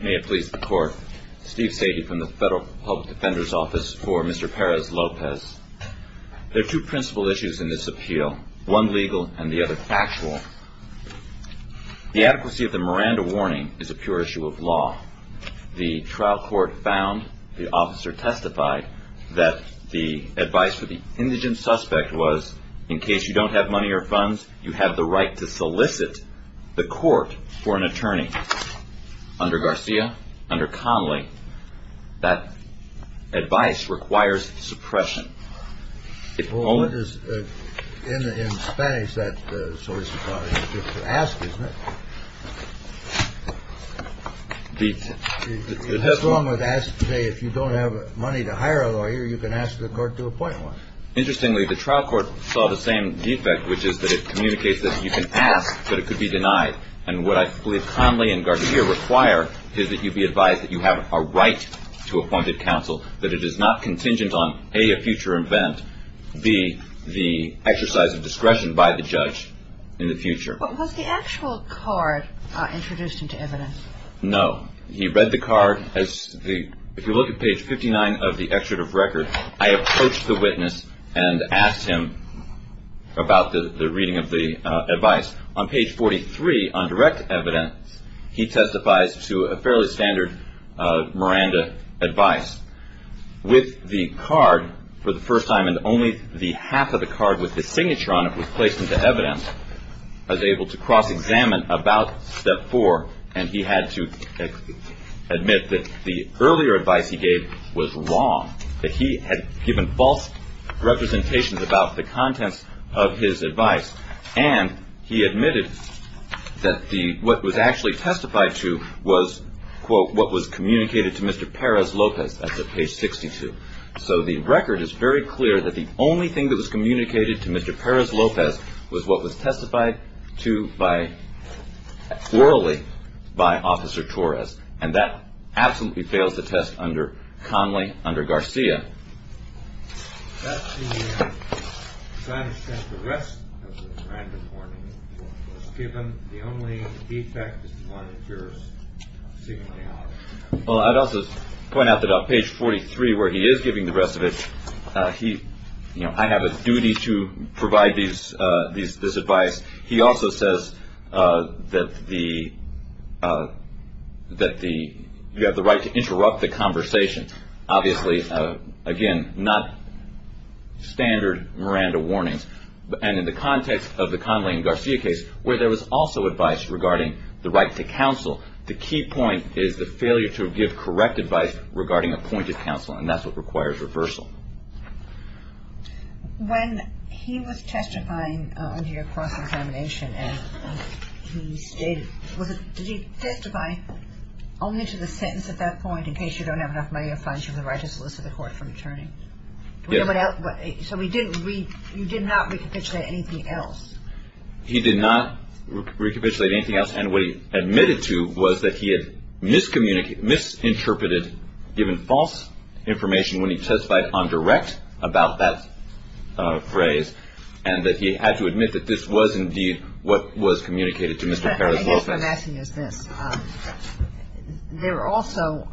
May it please the court, Steve Sadie from the Federal Public Defender's Office for Mr. Perez-Lopez. There are two principal issues in this appeal, one legal and the other factual. The adequacy of the Miranda warning is a pure issue of law. The trial court found, the officer testified, that the advice for the indigent suspect was in case you don't have money or funds, you have the right to solicit the court for an attorney. Under Garcia, under Conley, that advice requires suppression. In Spanish, that's the source of the problem. You have to ask, isn't it? It's wrong to say if you don't have money to hire a lawyer, you can ask the court to appoint one. Interestingly, the trial court saw the same defect, which is that it communicates that you can ask, but it could be denied. And what I believe Conley and Garcia require is that you be advised that you have a right to appointed counsel, that it is not contingent on, A, a future event, B, the exercise of discretion by the judge in the future. But was the actual card introduced into evidence? No. He read the card. If you look at page 59 of the excerpt of record, I approached the witness and asked him about the reading of the advice. On page 43, on direct evidence, he testifies to a fairly standard Miranda advice. With the card for the first time, and only the half of the card with the signature on it was placed into evidence, I was able to cross-examine about step four, and he had to admit that the earlier advice he gave was wrong, that he had given false representations about the contents of his advice, and he admitted that what was actually testified to was, quote, what was communicated to Mr. Perez Lopez at page 62. So the record is very clear that the only thing that was communicated to Mr. Perez Lopez was what was testified to by, orally, by Officer Torres. And that absolutely fails the test under Conley, under Garcia. That's the kind of test the rest of the Miranda warning was given. The only defect is the one that yours signaled. Well, I'd also point out that on page 43, where he is giving the rest of it, I have a duty to provide this advice. He also says that you have the right to interrupt the conversation. Obviously, again, not standard Miranda warnings. And in the context of the Conley and Garcia case, where there was also advice regarding the right to counsel, the key point is the failure to give correct advice regarding appointed counsel, and that's what requires reversal. When he was testifying under your cross-examination, as he stated, did he testify only to the sentence at that point, in case you don't have enough money or fines, you have the right to solicit the court for returning? Yes. So you did not recapitulate anything else? He did not recapitulate anything else. And what he admitted to was that he had misinterpreted, given false information when he testified on direct about that phrase, and that he had to admit that this was indeed what was communicated to Mr. Perez-Lopez. I guess what I'm asking is this. There are also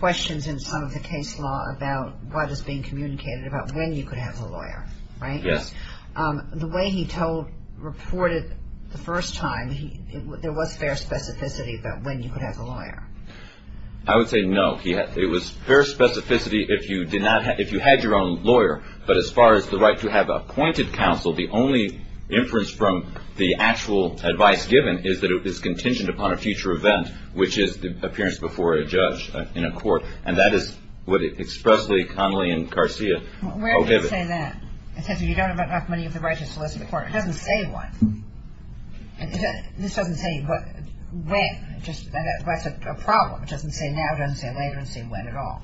questions in some of the case law about what is being communicated, about when you could have the lawyer, right? Yes. The way he reported the first time, there was fair specificity about when you could have the lawyer. I would say no. It was fair specificity if you had your own lawyer, but as far as the right to have appointed counsel, the only inference from the actual advice given is that it was contingent upon a future event, which is the appearance before a judge in a court, and that is what expressly Connelly and Garcia prohibit. I didn't say that. It says if you don't have enough money of the right to solicit the court. It doesn't say what. This doesn't say when. That's a problem. It doesn't say now. It doesn't say later. It doesn't say when at all.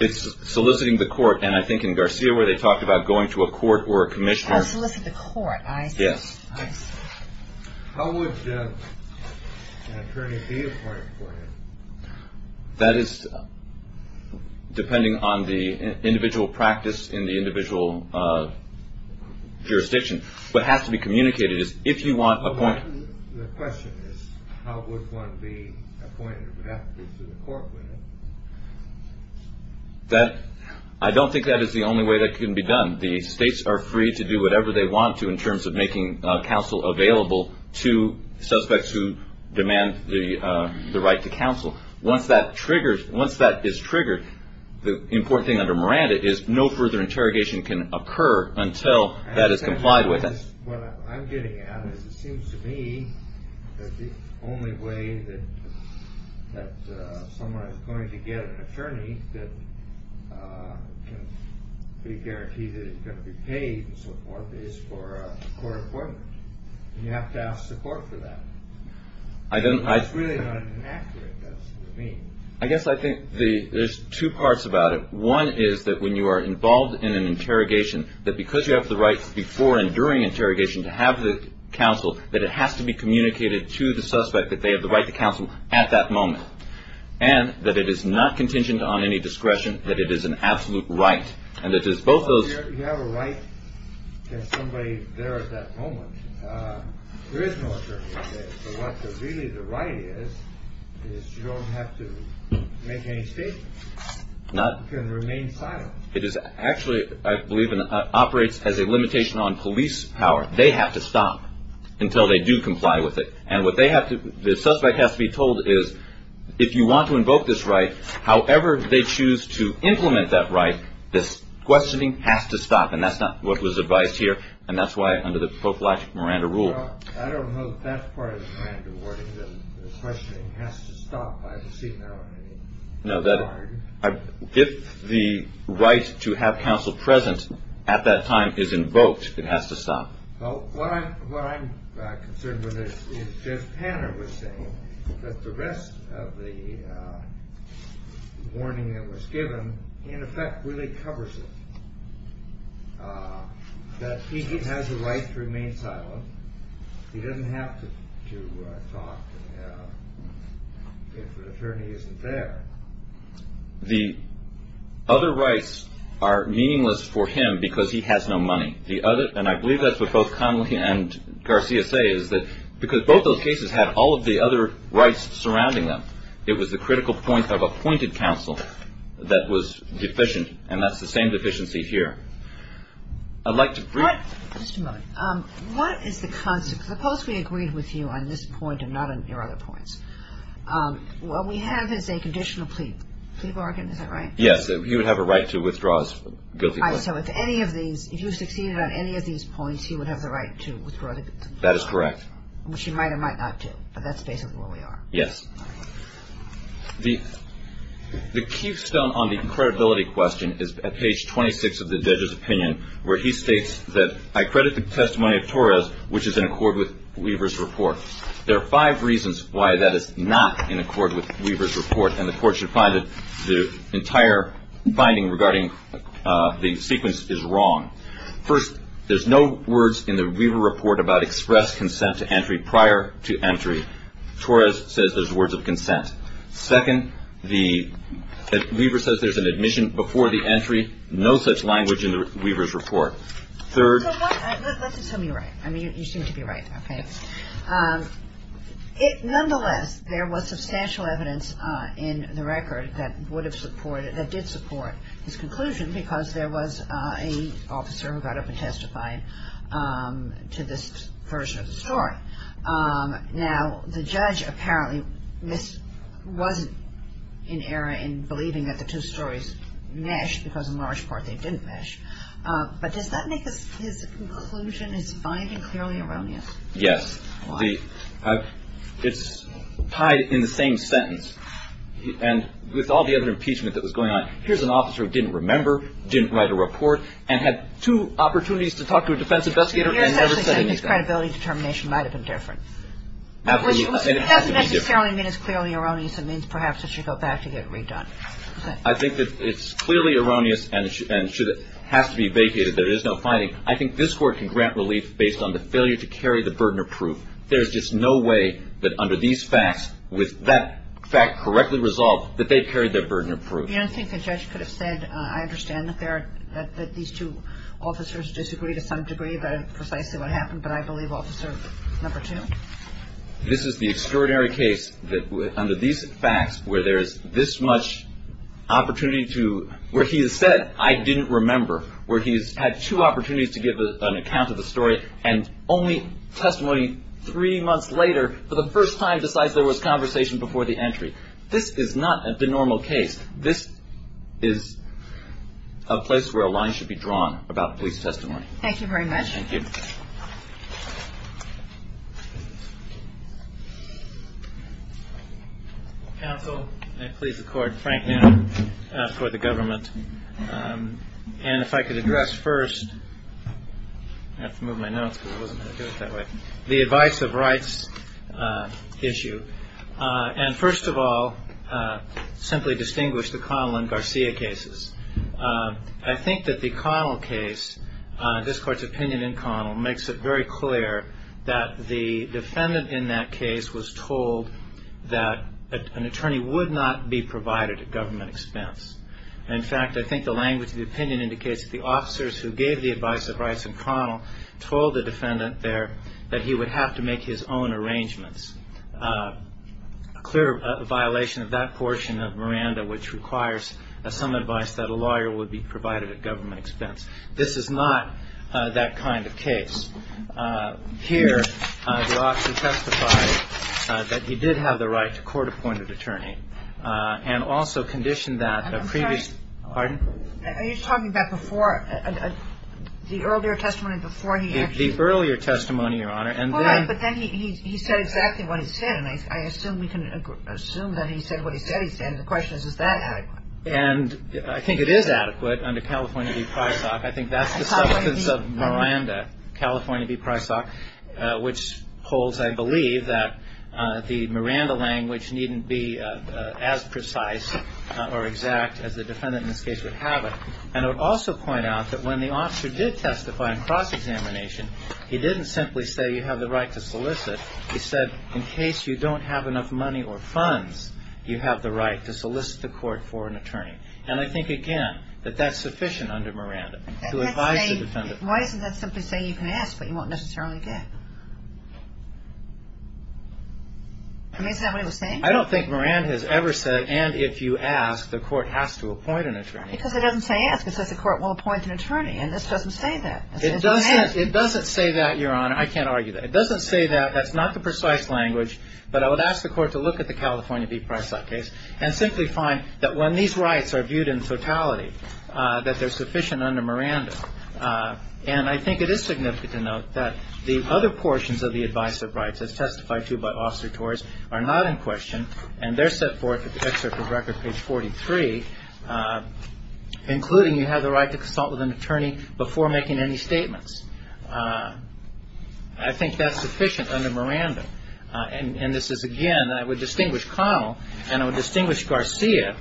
It's soliciting the court, and I think in Garcia where they talked about going to a court or a commissioner. Oh, solicit the court, I see. Yes. How would an attorney be appointed for you? That is depending on the individual practice in the individual jurisdiction. What has to be communicated is if you want a point. The question is how would one be appointed to the court with it? I don't think that is the only way that can be done. The states are free to do whatever they want to in terms of making counsel available to suspects who demand the right to counsel. Once that is triggered, the important thing under Miranda is no further interrogation can occur until that is complied with. I guess what I'm getting at is it seems to me that the only way that someone is going to get an attorney that can be guaranteed that he's going to be paid and so forth is for a court appointment. You have to ask the court for that. It's really not inaccurate. That's what it means. I guess I think there's two parts about it. One is that when you are involved in an interrogation, that because you have the right before and during interrogation to have the counsel, that it has to be communicated to the suspect that they have the right to counsel at that moment and that it is not contingent on any discretion, that it is an absolute right. You have a right to have somebody there at that moment. There is no attorney there. So what really the right is, is you don't have to make any statements. You can remain silent. Actually, I believe it operates as a limitation on police power. They have to stop until they do comply with it. And what they have to, the suspect has to be told is if you want to invoke this right, however they choose to implement that right, this questioning has to stop. And that's not what was advised here. And that's why under the prophylactic Miranda rule. I don't know if that's part of the Miranda wording. The questioning has to stop by the seat now. No, if the right to have counsel present at that time is invoked, it has to stop. Well, what I'm concerned with is, as Tanner was saying, that the rest of the warning that was given, in effect, really covers it. That he has a right to remain silent. He doesn't have to talk if an attorney isn't there. The other rights are meaningless for him because he has no money. And I believe that's what both Connelly and Garcia say, is that because both those cases had all of the other rights surrounding them, it was the critical point of appointed counsel that was deficient. And that's the same deficiency here. I'd like to brief. Just a moment. What is the concept? Suppose we agreed with you on this point and not on your other points. What we have is a conditional plea bargain, is that right? Yes. He would have a right to withdraw his guilty plea. All right. So if any of these, if you succeeded on any of these points, he would have the right to withdraw his guilty plea. That is correct. Which he might or might not do. But that's basically where we are. Yes. All right. The keystone on the credibility question is at page 26 of the judge's opinion, where he states that, I credit the testimony of Torres, which is in accord with Weaver's report. There are five reasons why that is not in accord with Weaver's report, and the Court should find that the entire binding regarding the sequence is wrong. First, there's no words in the Weaver report about express consent to entry prior to entry. Torres says there's words of consent. Second, Weaver says there's an admission before the entry. No such language in Weaver's report. Third. Let's assume you're right. I mean, you seem to be right. Okay. Nonetheless, there was substantial evidence in the record that would have supported, that did support his conclusion because there was an officer who got up and testified to this version of the story. Now, the judge apparently was in error in believing that the two stories meshed because in large part they didn't mesh. But does that make his conclusion, his finding, clearly erroneous? Yes. Why? It's tied in the same sentence. And with all the other impeachment that was going on, here's an officer who didn't remember, didn't write a report, and had two opportunities to talk to a defense investigator and never said anything. You're essentially saying his credibility determination might have been different. And it has to be different. It doesn't necessarily mean it's clearly erroneous. It means perhaps it should go back to get redone. I think that it's clearly erroneous and has to be vacated. There is no finding. I think this Court can grant relief based on the failure to carry the burden of proof. There's just no way that under these facts, with that fact correctly resolved, that they've carried their burden of proof. I think the judge could have said, I understand that these two officers disagree to some degree about precisely what happened, but I believe Officer No. 2. This is the extraordinary case that under these facts where there is this much opportunity to, where he has said, I didn't remember, where he's had two opportunities to give an account of the story and only testimony three months later for the first time besides there was conversation before the entry. This is not a denormal case. This is a place where a line should be drawn about police testimony. Thank you very much. Thank you. Counsel, may I please accord Frank now for the government. And if I could address first, I have to move my notes because I wasn't going to do it that way, the advice of rights issue. And first of all, simply distinguish the Connell and Garcia cases. I think that the Connell case, this Court's opinion in Connell, makes it very clear that the defendant in that case was told that an attorney would not be provided a government expense. In fact, I think the language of the opinion indicates that the officers who gave the advice of rights in Connell told the defendant there that he would have to make his own arrangements. A clear violation of that portion of Miranda, which requires some advice that a lawyer would be provided a government expense. This is not that kind of case. Here, the officer testified that he did have the right to court-appointed attorney and also conditioned that a previous. I'm sorry. Pardon? Are you talking about before, the earlier testimony before he actually. The earlier testimony, Your Honor. But then he said exactly what he said, and I assume we can assume that he said what he said he said. The question is, is that adequate? And I think it is adequate under California v. Prysock. I think that's the substance of Miranda, California v. Prysock, which holds, I believe, that the Miranda language needn't be as precise or exact as the defendant in this case would have it. And I would also point out that when the officer did testify in cross-examination, he didn't simply say you have the right to solicit. He said, in case you don't have enough money or funds, you have the right to solicit the court for an attorney. And I think, again, that that's sufficient under Miranda to advise the defendant. Why doesn't that simply say you can ask, but you won't necessarily get? I mean, is that what he was saying? I don't think Miranda has ever said, and if you ask, the court has to appoint an attorney. Because it doesn't say ask. It says the court will appoint an attorney, and this doesn't say that. It doesn't say that, Your Honor. I can't argue that. It doesn't say that. That's not the precise language, but I would ask the court to look at the California v. Prysock case and simply find that when these rights are viewed in totality, that they're sufficient under Miranda. And I think it is significant to note that the other portions of the advice of rights as testified to by Officer Torres are not in question, and they're set forth in the excerpt of record, page 43, including you have the right to consult with an attorney before making any statements. I think that's sufficient under Miranda. And this is, again, I would distinguish Connell, and I would distinguish Garcia,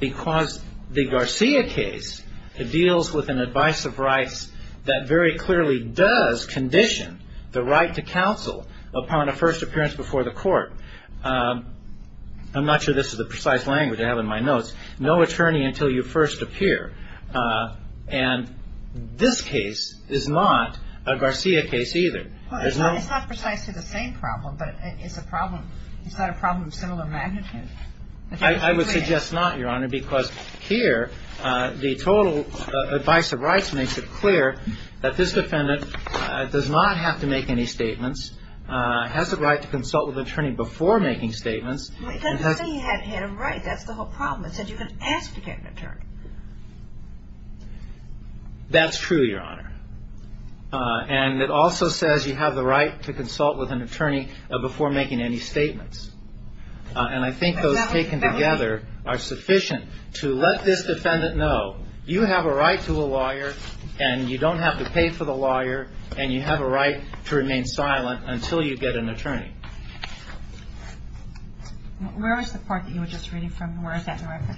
because the Garcia case deals with an advice of rights that very clearly does condition the right to counsel upon a first appearance before the court. I'm not sure this is the precise language I have in my notes. No attorney until you first appear. And this case is not a Garcia case either. There's no ‑‑ Well, it's not precisely the same problem, but it's a problem ‑‑ it's not a problem of similar magnitude. I would suggest not, Your Honor, because here the total advice of rights makes it clear that this defendant does not have to make any statements, has the right to consult with an attorney before making statements. Well, it doesn't say he had a right. That's the whole problem. It says you can ask to get an attorney. That's true, Your Honor. And it also says you have the right to consult with an attorney before making any statements. And I think those taken together are sufficient to let this defendant know, you have a right to a lawyer and you don't have to pay for the lawyer and you have a right to remain silent until you get an attorney. Where is the part that you were just reading from? Where is that in the record?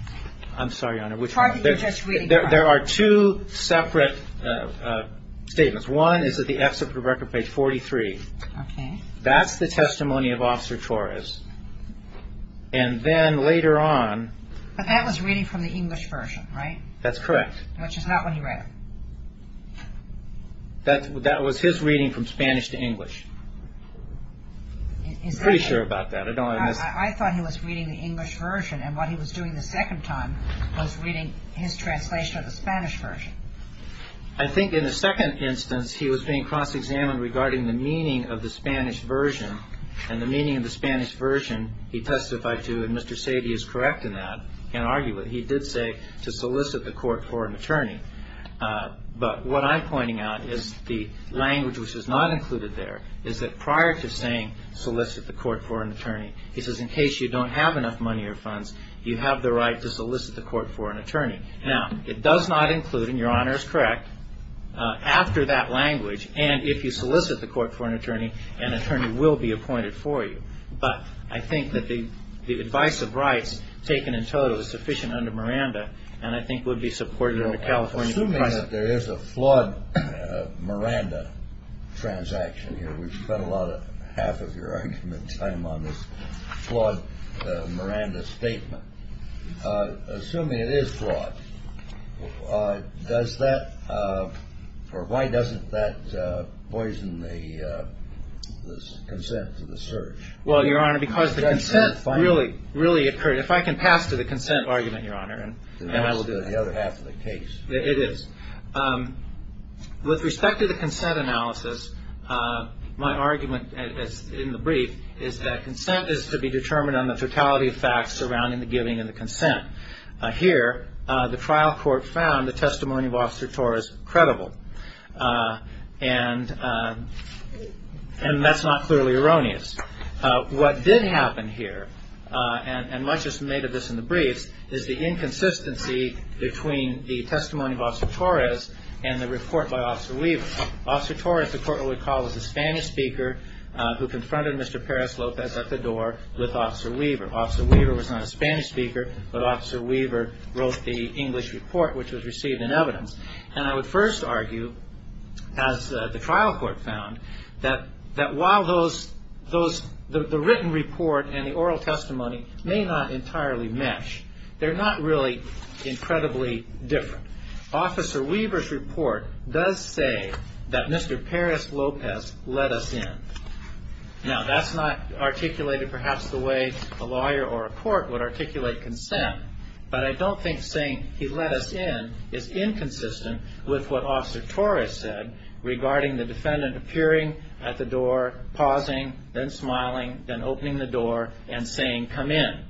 I'm sorry, Your Honor, which one? The part that you were just reading from. There are two separate statements. One is at the ex super record page 43. Okay. That's the testimony of Officer Torres. And then later on ‑‑ But that was reading from the English version, right? That's correct. Which is not what he read. That was his reading from Spanish to English. I'm pretty sure about that. I thought he was reading the English version. And what he was doing the second time was reading his translation of the Spanish version. I think in the second instance, he was being cross‑examined regarding the meaning of the Spanish version. And the meaning of the Spanish version, he testified to, and Mr. Sadie is correct in that in arguing it, he did say to solicit the court for an attorney. But what I'm pointing out is the language which is not included there is that prior to saying solicit the court for an attorney, he says in case you don't have enough money or funds, you have the right to solicit the court for an attorney. Now, it does not include, and Your Honor is correct, after that language, and if you solicit the court for an attorney, an attorney will be appointed for you. But I think that the advice of rights taken in total is sufficient under Miranda and I think would be supported under California ‑‑ Assuming that there is a flawed Miranda transaction here, we've spent half of your argument time on this flawed Miranda statement. Assuming it is flawed, does that, or why doesn't that poison the consent to the search? Well, Your Honor, because the consent really occurred. If I can pass to the consent argument, Your Honor, then I will do that. That's the other half of the case. It is. With respect to the consent analysis, my argument in the brief is that consent is to be determined on the totality of facts surrounding the giving and the consent. Here, the trial court found the testimony of Officer Torres credible, and that's not clearly erroneous. What did happen here, and much is made of this in the briefs, is the inconsistency between the testimony of Officer Torres and the report by Officer Weaver. Officer Torres, the court would recall, was a Spanish speaker who confronted Mr. Perez Lopez at the door with Officer Weaver. Officer Weaver was not a Spanish speaker, but Officer Weaver wrote the English report, which was received in evidence. And I would first argue, as the trial court found, that while the written report and the oral testimony may not entirely mesh, they're not really incredibly different. Officer Weaver's report does say that Mr. Perez Lopez let us in. Now, that's not articulated perhaps the way a lawyer or a court would articulate consent, but I don't think saying he let us in is inconsistent with what Officer Torres said regarding the defendant appearing at the door, pausing, then smiling, then opening the door and saying, come in.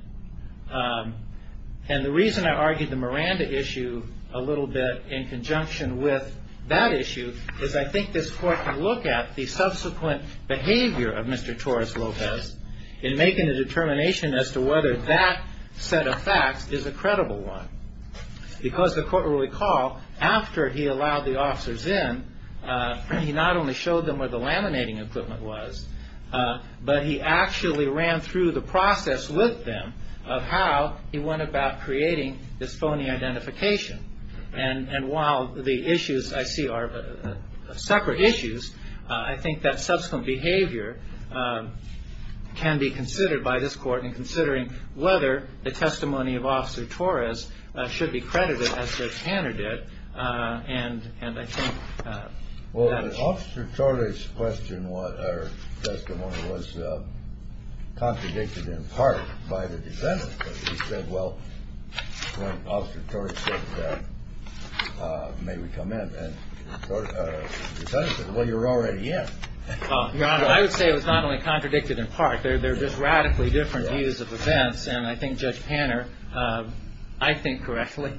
And the reason I argued the Miranda issue a little bit in conjunction with that issue is I think this court can look at the subsequent behavior of Mr. Torres Lopez in making a determination as to whether that set of facts is a credible one. Because the court will recall, after he allowed the officers in, he not only showed them where the laminating equipment was, but he actually ran through the process with them of how he went about creating this phony identification. And while the issues I see are separate issues, I think that subsequent behavior can be considered by this court in considering whether the testimony of Officer Torres should be credited as the candidate. And I think that is true. Well, Officer Torres' testimony was contradicted in part by the defendant. He said, well, when Officer Torres said, may we come in, and the defendant said, well, you're already in. I would say it was not only contradicted in part. They're just radically different views of events. And I think Judge Panner, I think correctly,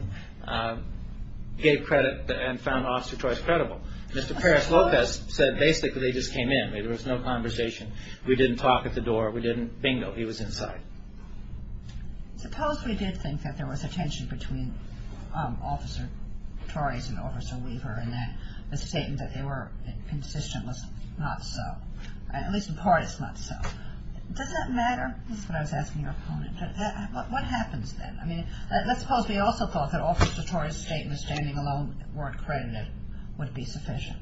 gave credit and found Officer Torres credible. Mr. Perez Lopez said basically they just came in. There was no conversation. We didn't talk at the door. We didn't bingo. He was inside. Suppose we did think that there was a tension between Officer Torres and Officer Weaver and that the statement that they were inconsistent was not so, at least in part it's not so. Does that matter? That's what I was asking your opponent. What happens then? I mean, let's suppose we also thought that Officer Torres' statement of standing alone weren't credited would be sufficient.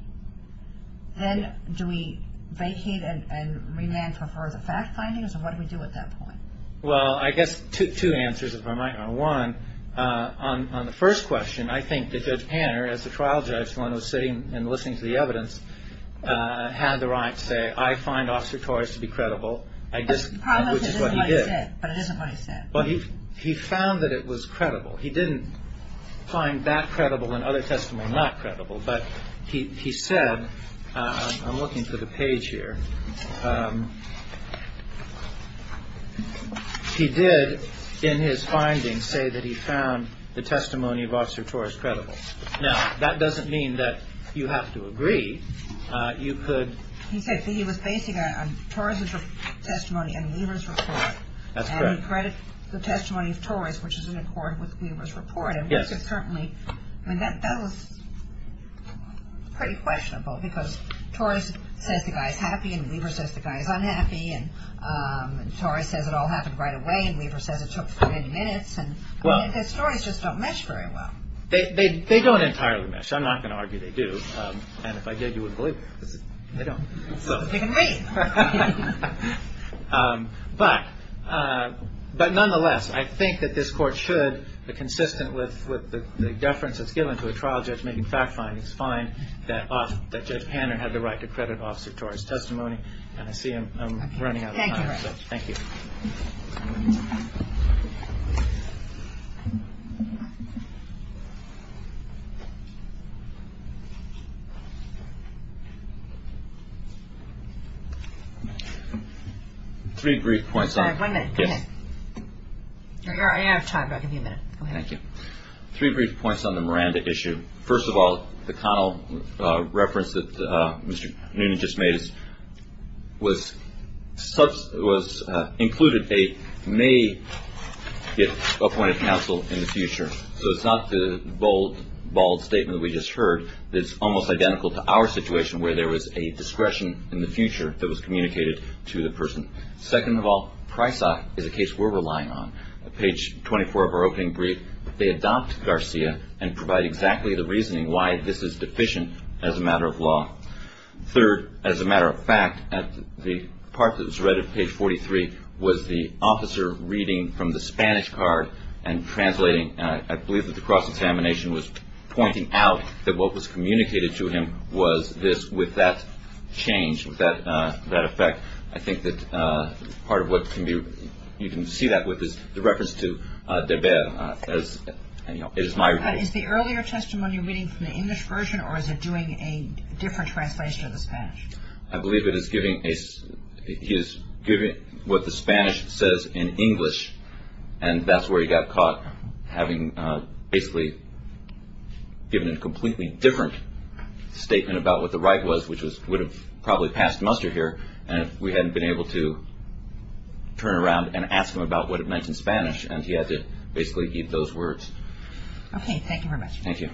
Then do we vacate and remand for further fact findings, or what do we do at that point? Well, I guess two answers, if I might. One, on the first question, I think that Judge Panner, as the trial judge, the one who was sitting and listening to the evidence, had the right to say, I find Officer Torres to be credible, which is what he did. But it isn't what he said. He found that it was credible. He didn't find that credible and other testimony not credible. But he said, I'm looking for the page here. He did, in his findings, say that he found the testimony of Officer Torres credible. Now, that doesn't mean that you have to agree. You could. He said he was basing it on Torres' testimony and Weaver's report. That's correct. And he credited the testimony of Torres, which is in accord with Weaver's report. Yes. I mean, that was pretty questionable, because Torres says the guy's happy, and Weaver says the guy's unhappy. And Torres says it all happened right away, and Weaver says it took 30 minutes. And his stories just don't mesh very well. They don't entirely mesh. I'm not going to argue they do. And if I did, you wouldn't believe me. They don't. They can read. But nonetheless, I think that this Court should, consistent with the deference that's given to a trial judge making fact findings, find that Judge Hanner had the right to credit Officer Torres' testimony. And I see I'm running out of time. Thank you. Thank you. Three brief points on the Miranda issue. First of all, the Connell reference that Mr. Noonan just made was included a may get appointed counsel in the future. So it's not the bold statement we just heard. It's almost identical to our situation where there was a discretion in the future that was communicated to the person. Second of all, Prysock is a case we're relying on. At page 24 of our opening brief, they adopt Garcia and provide exactly the reasoning why this is deficient as a matter of law. Third, as a matter of fact, at the part that was read at page 43 was the officer reading from the Spanish card and translating. I believe that the cross-examination was pointing out that what was communicated to him was this. With that change, with that effect, I think that part of what can be, you can see that with the reference to Derbe as, you know, it is my report. Is the earlier testimony reading from the English version or is it doing a different translation of the Spanish? I believe it is giving what the Spanish says in English. And that's where he got caught having basically given a completely different statement about what the right was, which would have probably passed muster here if we hadn't been able to turn around and ask him about what it meant in Spanish. And he had to basically keep those words. Thank you very much. Thank you.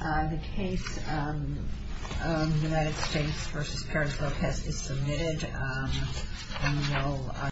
The case of the United States v. Paris protest is submitted.